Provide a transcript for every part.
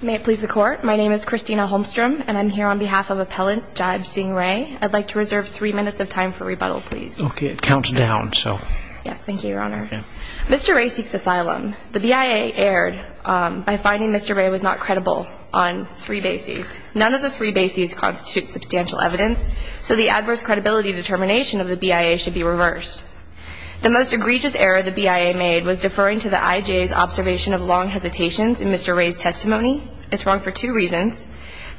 May it please the court. My name is Christina Holmstrom, and I'm here on behalf of Appellant Jaib Singh Ray. I'd like to reserve three minutes of time for rebuttal, please. Okay. It counts down, so. Yes. Thank you, Your Honor. Yeah. Mr. Ray seeks asylum. The BIA erred by finding Mr. Ray was not credible on three bases. None of the three bases constitute substantial evidence, so the adverse credibility determination of the BIA should be reversed. The most egregious error the BIA made was deferring to the I.J.'s observation of long hesitations in Mr. Ray's testimony. It's wrong for two reasons.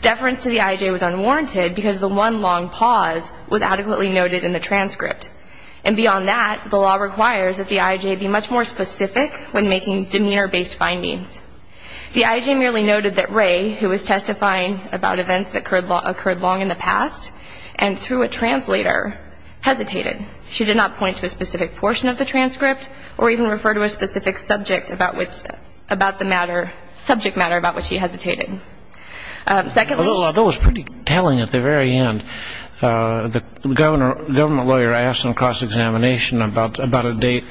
Deference to the I.J. was unwarranted because the one long pause was adequately noted in the transcript. And beyond that, the law requires that the I.J. be much more specific when making demeanor-based findings. The I.J. merely noted that Ray, who was testifying about events that occurred long in the past and through a translator, hesitated. She did not point to a specific portion of the transcript or even refer to a specific subject about the matter, subject matter about which he hesitated. Secondly- Although it was pretty telling at the very end. The government lawyer asks him across examination about a date,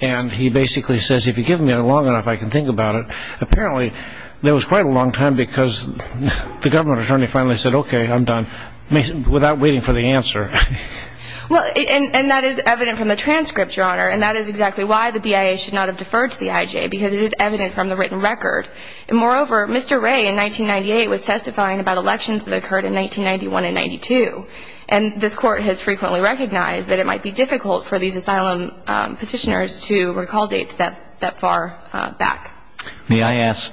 and he basically says, if you give me long enough, I can think about it. Apparently, there was quite a long time because the government attorney finally said, okay, I'm done, without waiting for the answer. Well, and that is evident from the transcript, Your Honor. And that is exactly why the BIA should not have deferred to the I.J., because it is evident from the written record. And moreover, Mr. Ray, in 1998, was testifying about elections that occurred in 1991 and 92. And this Court has frequently recognized that it might be difficult for these asylum petitioners to recall dates that far back. May I ask-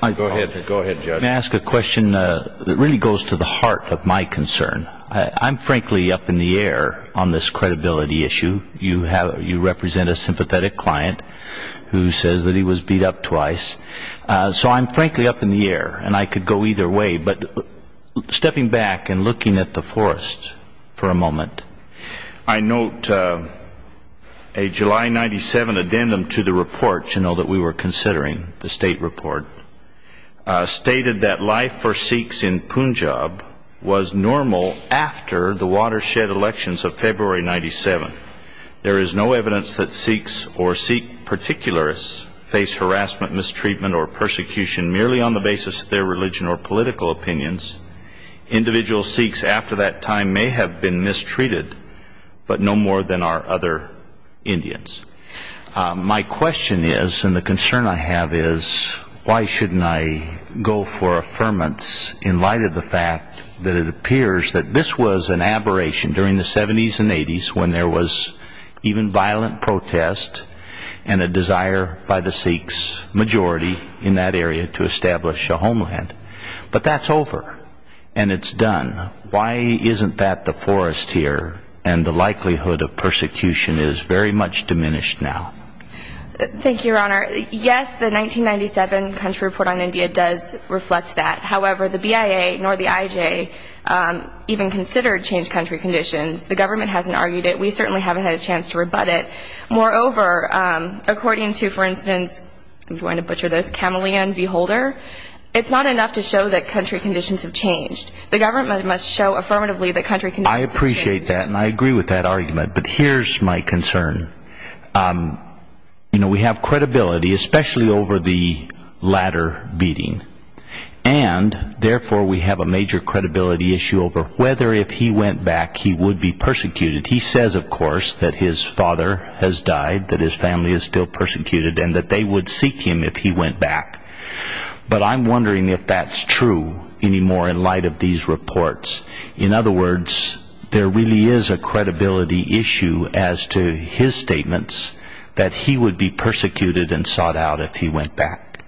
Go ahead. Go ahead, Judge. May I ask a question that really goes to the heart of my concern? I'm frankly up in the air on this credibility issue. You represent a sympathetic client who says that he was beat up twice. So I'm frankly up in the air, and I could go either way. But stepping back and looking at the forest for a moment, I note a July 1997 addendum to the report, to note that we were considering the state report, stated that life for Sikhs in Punjab was normal after the watershed elections of February 1997. There is no evidence that Sikhs or Sikh particularists face harassment, mistreatment, or persecution merely on the basis of their religion or political opinions. Individual Sikhs after that time may have been mistreated, but no more than our other Indians. My question is, and the concern I have is, why shouldn't I go for affirmance in light of the fact that it appears that this was an aberration during the 70s and 80s when there was even violent protest and a desire by the Sikhs majority in that area to establish a homeland. But that's over, and it's done. Why isn't that the forest here, and the likelihood of persecution is very much diminished now? Thank you, Your Honor. Yes, the 1997 country report on India does reflect that. However, the BIA nor the IJ even considered changed country conditions. The government hasn't argued it. We certainly haven't had a chance to rebut it. Moreover, according to, for instance, I'm going to butcher this, Kamalian V. Holder, it's not enough to show that country conditions have changed. The government must show affirmatively that country conditions have changed. I appreciate that, and I agree with that argument. But here's my concern. You know, we have credibility, especially over the latter beating. And, therefore, we have a major credibility issue over whether if he went back he would be persecuted. He says, of course, that his father has died, that his family is still persecuted, and that they would seek him if he went back. But I'm wondering if that's true anymore in light of these reports. In other words, there really is a credibility issue as to his statements that he would be persecuted and sought out if he went back.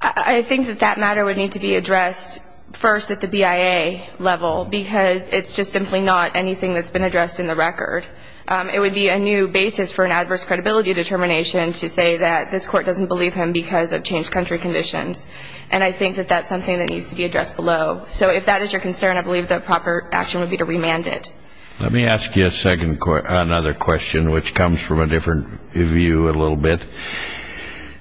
I think that that matter would need to be addressed first at the BIA level because it's just simply not anything that's been addressed in the record. It would be a new basis for an adverse credibility determination to say that this court doesn't believe him because of changed country conditions. And I think that that's something that needs to be addressed below. So if that is your concern, I believe the proper action would be to remand it. Let me ask you another question, which comes from a different view a little bit. It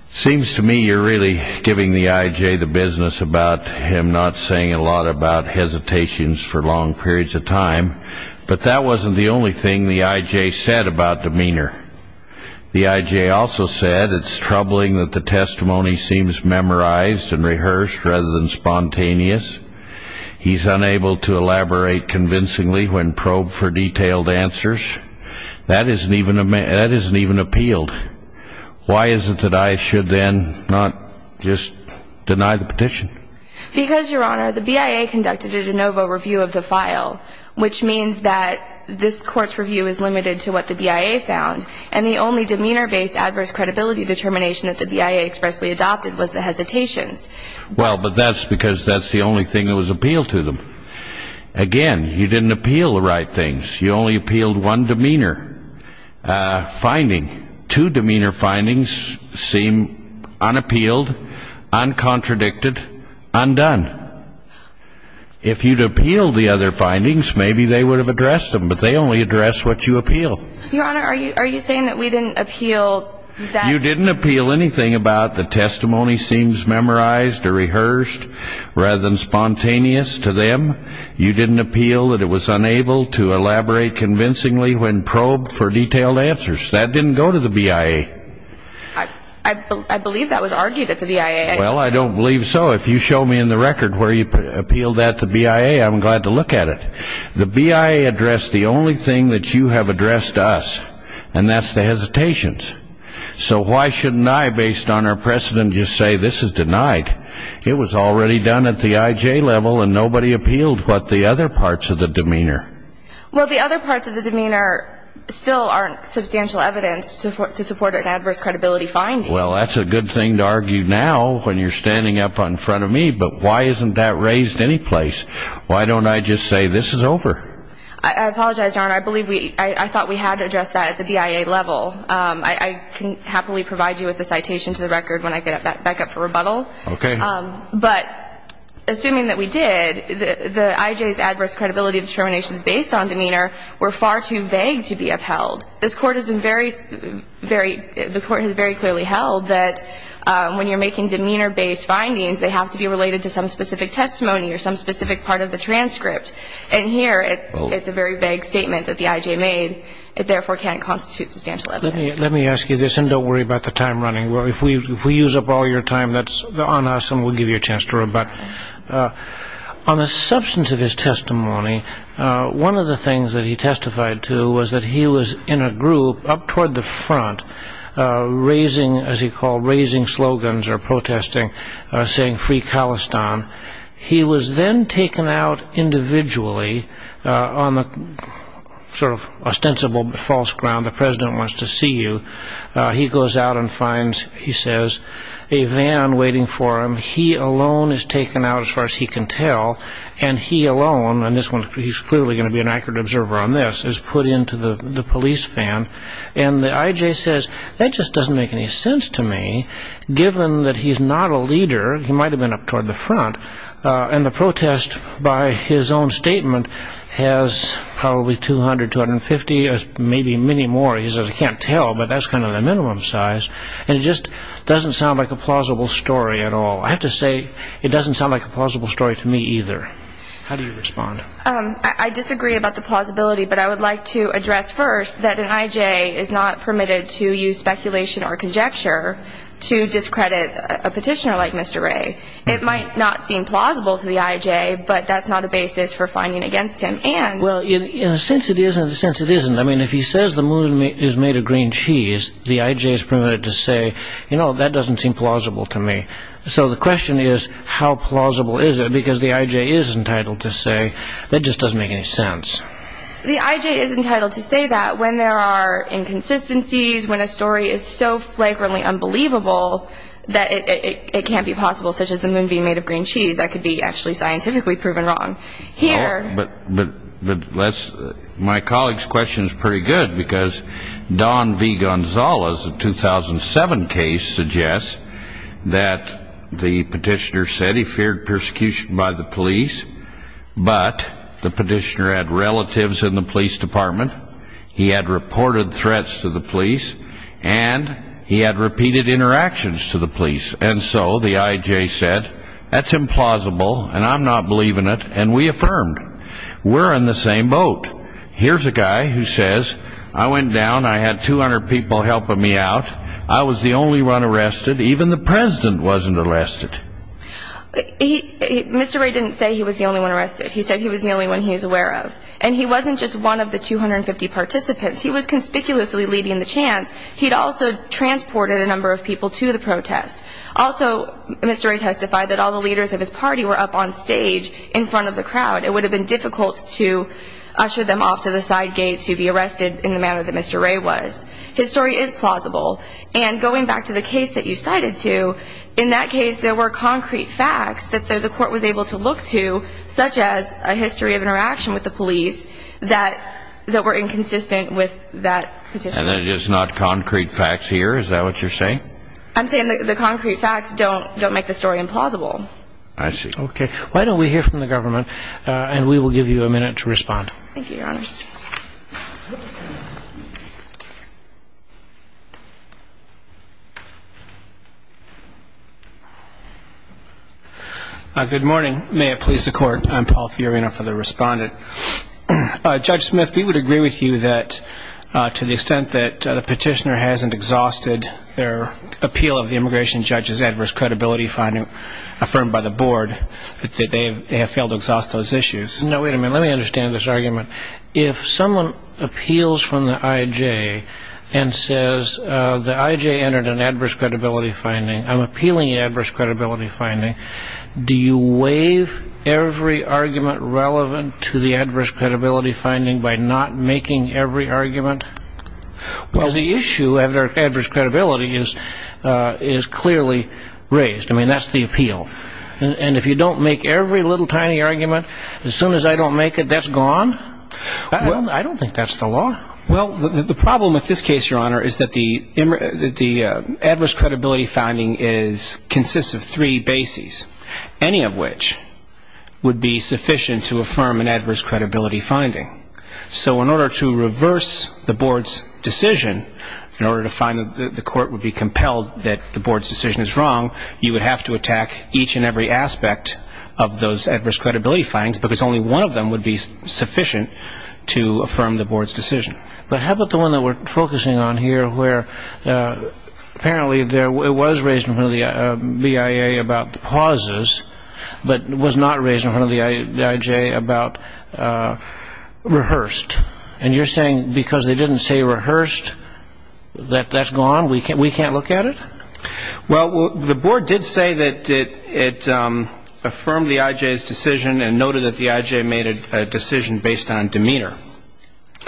seems to me you're really giving the I.J. the business about him not saying a lot about hesitations for long periods of time. But that wasn't the only thing the I.J. said about demeanor. The I.J. also said it's troubling that the testimony seems memorized and rehearsed rather than spontaneous. He's unable to elaborate convincingly when probed for detailed answers. That isn't even appealed. Why is it that I should then not just deny the petition? Because, Your Honor, the BIA conducted a de novo review of the file, which means that this court's review is limited to what the BIA found. And the only demeanor-based adverse credibility determination that the BIA expressly adopted was the hesitations. Well, but that's because that's the only thing that was appealed to them. Again, you didn't appeal the right things. You only appealed one demeanor finding. Two demeanor findings seem unappealed, uncontradicted, undone. If you'd appealed the other findings, maybe they would have addressed them. But they only address what you appeal. Your Honor, are you saying that we didn't appeal that? You didn't appeal anything about the testimony seems memorized or rehearsed rather than spontaneous to them. You didn't appeal that it was unable to elaborate convincingly when probed for detailed answers. That didn't go to the BIA. I believe that was argued at the BIA. Well, I don't believe so. If you show me in the record where you appealed that to BIA, I'm glad to look at it. The BIA addressed the only thing that you have addressed us, and that's the hesitations. So why shouldn't I, based on our precedent, just say this is denied? It was already done at the IJ level, and nobody appealed but the other parts of the demeanor. Well, the other parts of the demeanor still aren't substantial evidence to support an adverse credibility finding. Well, that's a good thing to argue now when you're standing up in front of me. But why isn't that raised anyplace? Why don't I just say this is over? I apologize, Your Honor. I thought we had addressed that at the BIA level. I can happily provide you with a citation to the record when I get back up for rebuttal. Okay. But assuming that we did, the IJ's adverse credibility determinations based on demeanor were far too vague to be upheld. This Court has been very, very, the Court has very clearly held that when you're making demeanor-based findings, they have to be related to some specific testimony or some specific part of the transcript. And here it's a very vague statement that the IJ made. It therefore can't constitute substantial evidence. Let me ask you this, and don't worry about the time running. If we use up all your time, that's on us, and we'll give you a chance to rebut. On the substance of his testimony, one of the things that he testified to was that he was in a group up toward the front, raising, as he called, raising slogans or protesting, saying, free Khalistan. He was then taken out individually on the sort of ostensible false ground, the president wants to see you. He goes out and finds, he says, a van waiting for him. He alone is taken out, as far as he can tell, and he alone, and he's clearly going to be an accurate observer on this, is put into the police van. And the IJ says, that just doesn't make any sense to me, given that he's not a leader. He might have been up toward the front. And the protest, by his own statement, has probably 200, 250, maybe many more. He says, I can't tell, but that's kind of the minimum size. And it just doesn't sound like a plausible story at all. I have to say, it doesn't sound like a plausible story to me either. How do you respond? I disagree about the plausibility, but I would like to address first that an IJ is not permitted to use speculation or conjecture to discredit a petitioner like Mr. Wray. It might not seem plausible to the IJ, but that's not a basis for finding against him. Well, in a sense it is, and in a sense it isn't. I mean, if he says the moon is made of green cheese, the IJ is permitted to say, you know, that doesn't seem plausible to me. So the question is, how plausible is it? Because the IJ is entitled to say, that just doesn't make any sense. The IJ is entitled to say that when there are inconsistencies, when a story is so flagrantly unbelievable that it can't be possible, such as the moon being made of green cheese, that could be actually scientifically proven wrong. But my colleague's question is pretty good, because Don V. Gonzalez, a 2007 case, suggests that the petitioner said he feared persecution by the police, but the petitioner had relatives in the police department, he had reported threats to the police, and he had repeated interactions to the police. And so the IJ said, that's implausible, and I'm not believing it, and we affirmed, we're in the same boat. Here's a guy who says, I went down, I had 200 people helping me out, I was the only one arrested, even the president wasn't arrested. Mr. Wray didn't say he was the only one arrested. He said he was the only one he was aware of. And he wasn't just one of the 250 participants. He was conspicuously leading the chants. He'd also transported a number of people to the protest. Also, Mr. Wray testified that all the leaders of his party were up on stage in front of the crowd. It would have been difficult to usher them off to the side gate to be arrested in the manner that Mr. Wray was. His story is plausible. And going back to the case that you cited, too, in that case there were concrete facts that the court was able to look to, such as a history of interaction with the police, that were inconsistent with that petitioner. And it is not concrete facts here? Is that what you're saying? I'm saying the concrete facts don't make the story implausible. I see. Okay. Why don't we hear from the government, and we will give you a minute to respond. Thank you, Your Honor. Good morning. May it please the Court, I'm Paul Fiorina for the Respondent. Judge Smith, we would agree with you that to the extent that the petitioner hasn't exhausted their appeal of the immigration judge's adverse credibility finding affirmed by the board, that they have failed to exhaust those issues. No, wait a minute. Let me understand this argument. If someone appeals from the IJ and says the IJ entered an adverse credibility finding, I'm appealing an adverse credibility finding, do you waive every argument relevant to the adverse credibility finding by not making every argument? Because the issue of their adverse credibility is clearly raised. I mean, that's the appeal. And if you don't make every little tiny argument, as soon as I don't make it, that's gone? I don't think that's the law. Well, the problem with this case, Your Honor, is that the adverse credibility finding consists of three bases, any of which would be sufficient to affirm an adverse credibility finding. So in order to reverse the board's decision, in order to find that the court would be compelled that the board's decision is wrong, you would have to attack each and every aspect of those adverse credibility findings, because only one of them would be sufficient to affirm the board's decision. But how about the one that we're focusing on here, where apparently it was raised in front of the BIA about pauses, but was not raised in front of the IJ about rehearsed. And you're saying because they didn't say rehearsed that that's gone? We can't look at it? Well, the board did say that it affirmed the IJ's decision and noted that the IJ made a decision based on demeanor.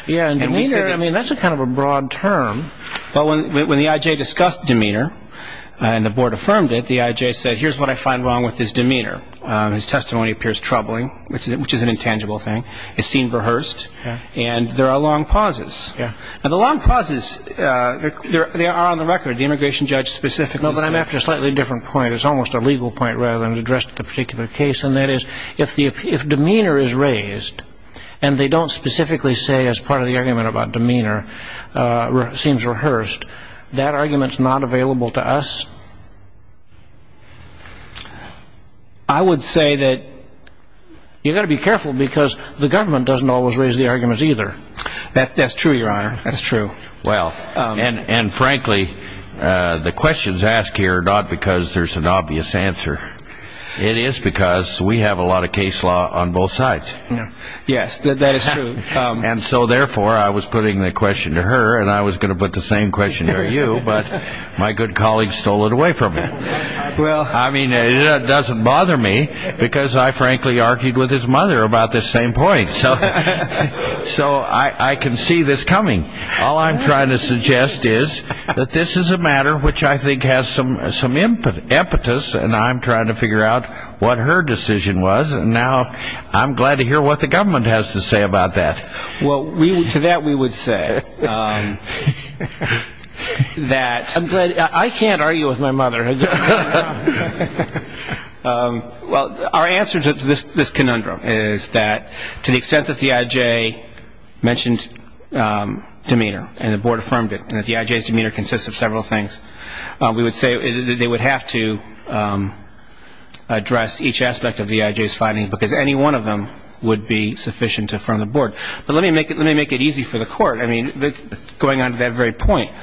Yeah, and demeanor, I mean, that's kind of a broad term. Well, when the IJ discussed demeanor and the board affirmed it, the IJ said, here's what I find wrong with his demeanor. His testimony appears troubling, which is an intangible thing. It's seen rehearsed, and there are long pauses. Yeah. And the long pauses, they are on the record. The immigration judge specifically said. No, but I'm after a slightly different point. It's almost a legal point rather than addressed at the particular case, and that is if demeanor is raised and they don't specifically say as part of the argument about demeanor seems rehearsed, that argument's not available to us? I would say that you've got to be careful because the government doesn't always raise the arguments either. That's true, Your Honor. That's true. Well, and frankly, the questions asked here are not because there's an obvious answer. It is because we have a lot of case law on both sides. Yes, that is true. And so, therefore, I was putting the question to her, and I was going to put the same question to you, but my good colleague stole it away from me. I mean, it doesn't bother me because I frankly argued with his mother about this same point. So I can see this coming. All I'm trying to suggest is that this is a matter which I think has some impetus, and I'm trying to figure out what her decision was, and now I'm glad to hear what the government has to say about that. Well, to that we would say that. I can't argue with my mother. Well, our answer to this conundrum is that to the extent that the I.J. mentioned demeanor and the Board affirmed it and that the I.J.'s demeanor consists of several things, we would say that they would have to address each aspect of the I.J.'s findings because any one of them would be sufficient to affirm the Board. Going on to that very point,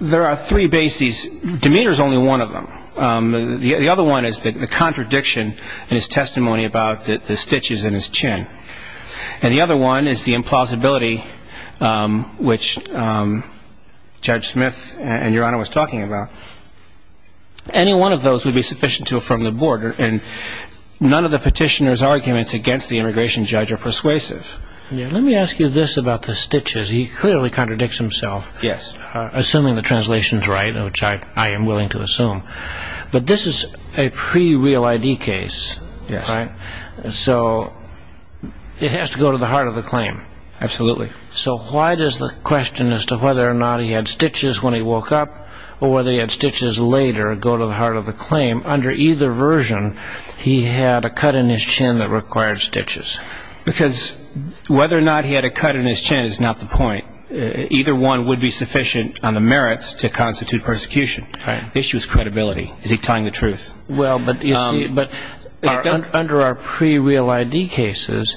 there are three bases. Demeanor is only one of them. The other one is the contradiction in his testimony about the stitches in his chin, and the other one is the implausibility, which Judge Smith and Your Honor was talking about. Any one of those would be sufficient to affirm the Board, and none of the petitioner's arguments against the immigration judge are persuasive. Let me ask you this about the stitches. He clearly contradicts himself, assuming the translation is right, which I am willing to assume. But this is a pre-real I.D. case, so it has to go to the heart of the claim. Absolutely. So why does the question as to whether or not he had stitches when he woke up or whether he had stitches later go to the heart of the claim? Under either version, he had a cut in his chin that required stitches. Because whether or not he had a cut in his chin is not the point. Either one would be sufficient on the merits to constitute persecution. The issue is credibility. Is he telling the truth? Well, but under our pre-real I.D. cases,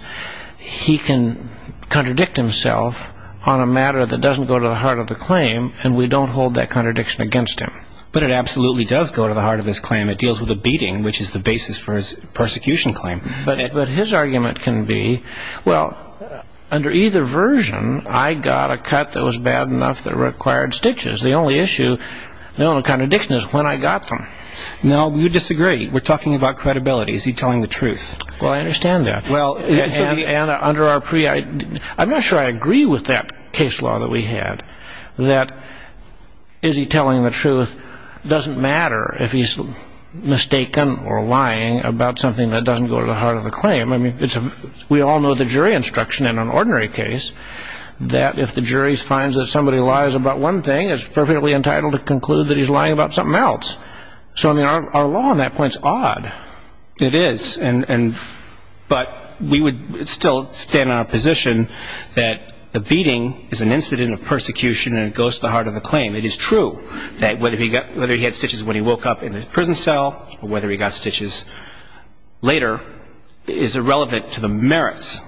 he can contradict himself on a matter that doesn't go to the heart of the claim, and we don't hold that contradiction against him. But it absolutely does go to the heart of his claim. It deals with a beating, which is the basis for his persecution claim. But his argument can be, well, under either version, I got a cut that was bad enough that required stitches. The only issue, the only contradiction is when I got them. No, you disagree. We're talking about credibility. Is he telling the truth? Well, I understand that. And under our pre-I.D. I'm not sure I agree with that case law that we had, that is he telling the truth doesn't matter if he's mistaken or lying about something that doesn't go to the heart of the claim. I mean, we all know the jury instruction in an ordinary case that if the jury finds that somebody lies about one thing, it's perfectly entitled to conclude that he's lying about something else. So, I mean, our law on that point is odd. It is. But we would still stand on a position that the beating is an incident of persecution and it goes to the heart of the claim. It is true that whether he had stitches when he woke up in the prison cell or whether he got stitches later is irrelevant to the merits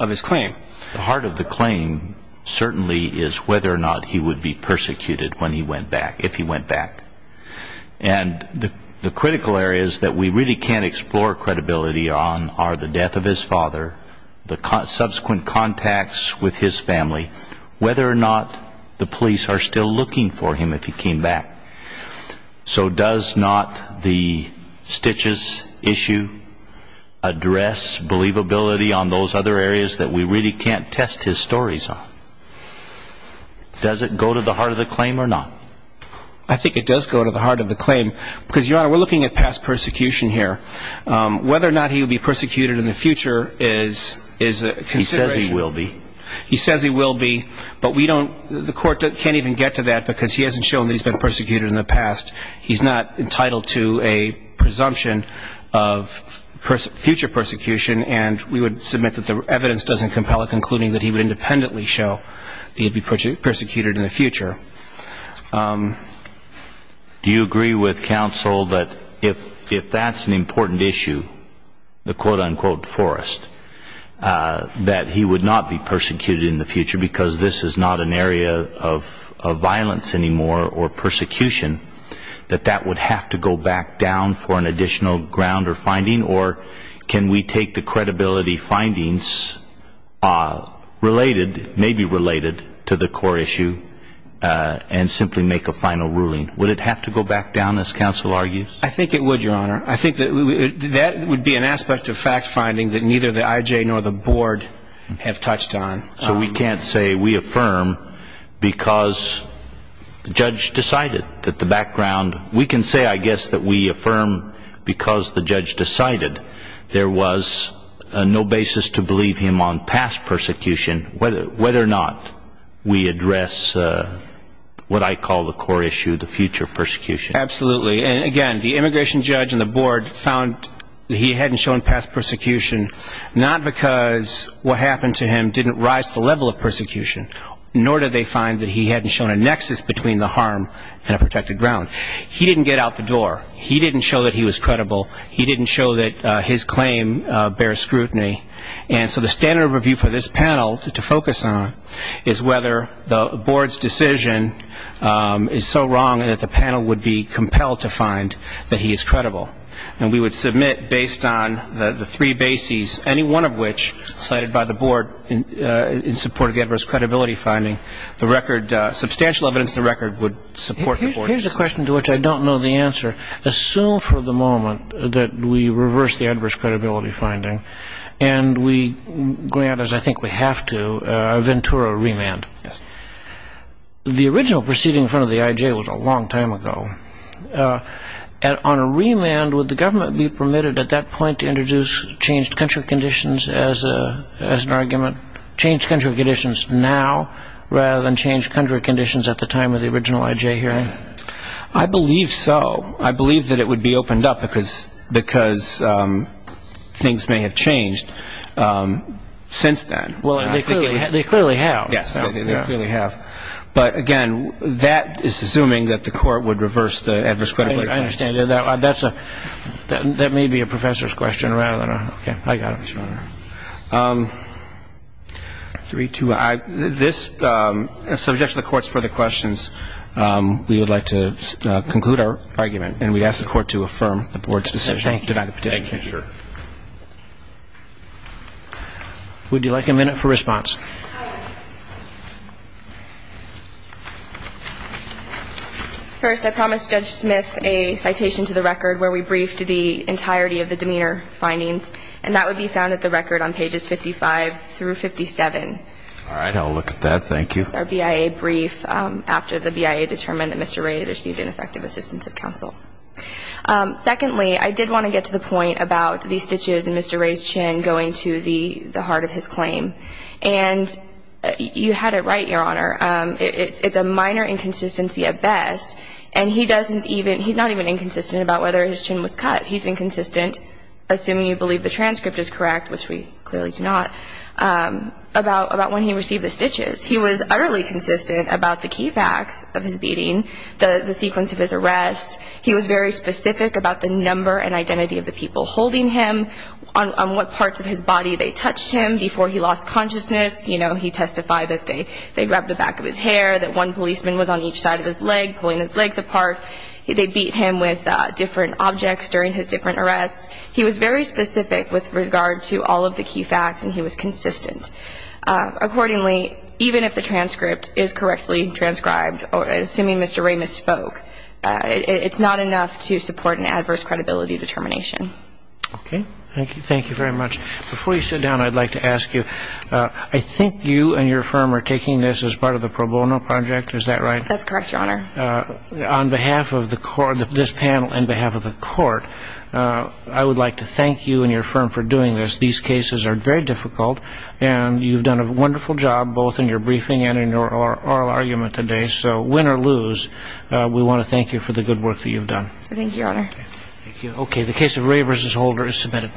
of his claim. The heart of the claim certainly is whether or not he would be persecuted when he went back, if he went back. And the critical areas that we really can't explore credibility on are the death of his father, the subsequent contacts with his family, whether or not the police are still looking for him if he came back. So does not the stitches issue address believability on those other areas that we really can't test his stories on? Does it go to the heart of the claim or not? I think it does go to the heart of the claim because, Your Honor, we're looking at past persecution here. Whether or not he would be persecuted in the future is a consideration. He says he will be. He says he will be, but we don't, the court can't even get to that because he hasn't shown that he's been persecuted in the past. He's not entitled to a presumption of future persecution, and we would submit that the evidence doesn't compel it, including that he would independently show that he would be persecuted in the future. Do you agree with counsel that if that's an important issue, the quote-unquote forest, that he would not be persecuted in the future because this is not an area of violence anymore or persecution, that that would have to go back down for an additional ground or finding? Or can we take the credibility findings related, maybe related, to the core issue and simply make a final ruling? Would it have to go back down, as counsel argues? I think it would, Your Honor. That would be an aspect of fact finding that neither the IJ nor the board have touched on. So we can't say we affirm because the judge decided that the background. We can say, I guess, that we affirm because the judge decided there was no basis to believe him on past persecution, whether or not we address what I call the core issue, the future persecution. Absolutely. And, again, the immigration judge and the board found that he hadn't shown past persecution, not because what happened to him didn't rise to the level of persecution, nor did they find that he hadn't shown a nexus between the harm and a protected ground. He didn't get out the door. He didn't show that he was credible. He didn't show that his claim bears scrutiny. And so the standard of review for this panel to focus on is whether the board's decision is so wrong that the panel would be compelled to find that he is credible. And we would submit, based on the three bases, any one of which cited by the board in support of the adverse credibility finding, the record, substantial evidence of the record would support the board's decision. Here's a question to which I don't know the answer. Assume for the moment that we reverse the adverse credibility finding and we grant, as I think we have to, a ventura remand. The original proceeding in front of the I.J. was a long time ago. On a remand, would the government be permitted at that point to introduce changed country conditions as an argument, changed country conditions now rather than changed country conditions at the time of the original I.J. hearing? I believe so. I believe that it would be opened up because things may have changed since then. Well, they clearly have. Yes, they clearly have. But, again, that is assuming that the court would reverse the adverse credibility finding. I understand. That may be a professor's question rather than a ‑‑ okay. I got it. Yes, Your Honor. Three, two. This, subject to the court's further questions, we would like to conclude our argument, and we ask the court to affirm the board's decision and deny the petition. Thank you. Thank you, Your Honor. Would you like a minute for response? First, I promised Judge Smith a citation to the record where we briefed the entirety of the demeanor findings, and that would be found at the record on pages 55 through 57. All right. I'll look at that. Thank you. Our BIA brief after the BIA determined that Mr. Ray had received ineffective assistance of counsel. Secondly, I did want to get to the point about the stitches in Mr. Ray's chin going to the heart of his claim. And you had it right, Your Honor. It's a minor inconsistency at best, and he doesn't even ‑‑ he's not even inconsistent about whether his chin was cut. He's inconsistent, assuming you believe the transcript is correct, which we clearly do not, about when he received the stitches. He was utterly consistent about the key facts of his beating, the sequence of his arrest. He was very specific about the number and identity of the people holding him, on what parts of his body they touched him before he lost consciousness. You know, he testified that they grabbed the back of his hair, that one policeman was on each side of his leg, pulling his legs apart. They beat him with different objects during his different arrests. He was very specific with regard to all of the key facts, and he was consistent. Accordingly, even if the transcript is correctly transcribed, assuming Mr. Ray misspoke, it's not enough to support an adverse credibility determination. Okay. Thank you very much. Before you sit down, I'd like to ask you, I think you and your firm are taking this as part of the pro bono project, is that right? That's correct, Your Honor. On behalf of this panel and behalf of the court, I would like to thank you and your firm for doing this. These cases are very difficult, and you've done a wonderful job, both in your briefing and in your oral argument today. So win or lose, we want to thank you for the good work that you've done. Thank you, Your Honor. Okay. The case of Ray v. Holder is submitted.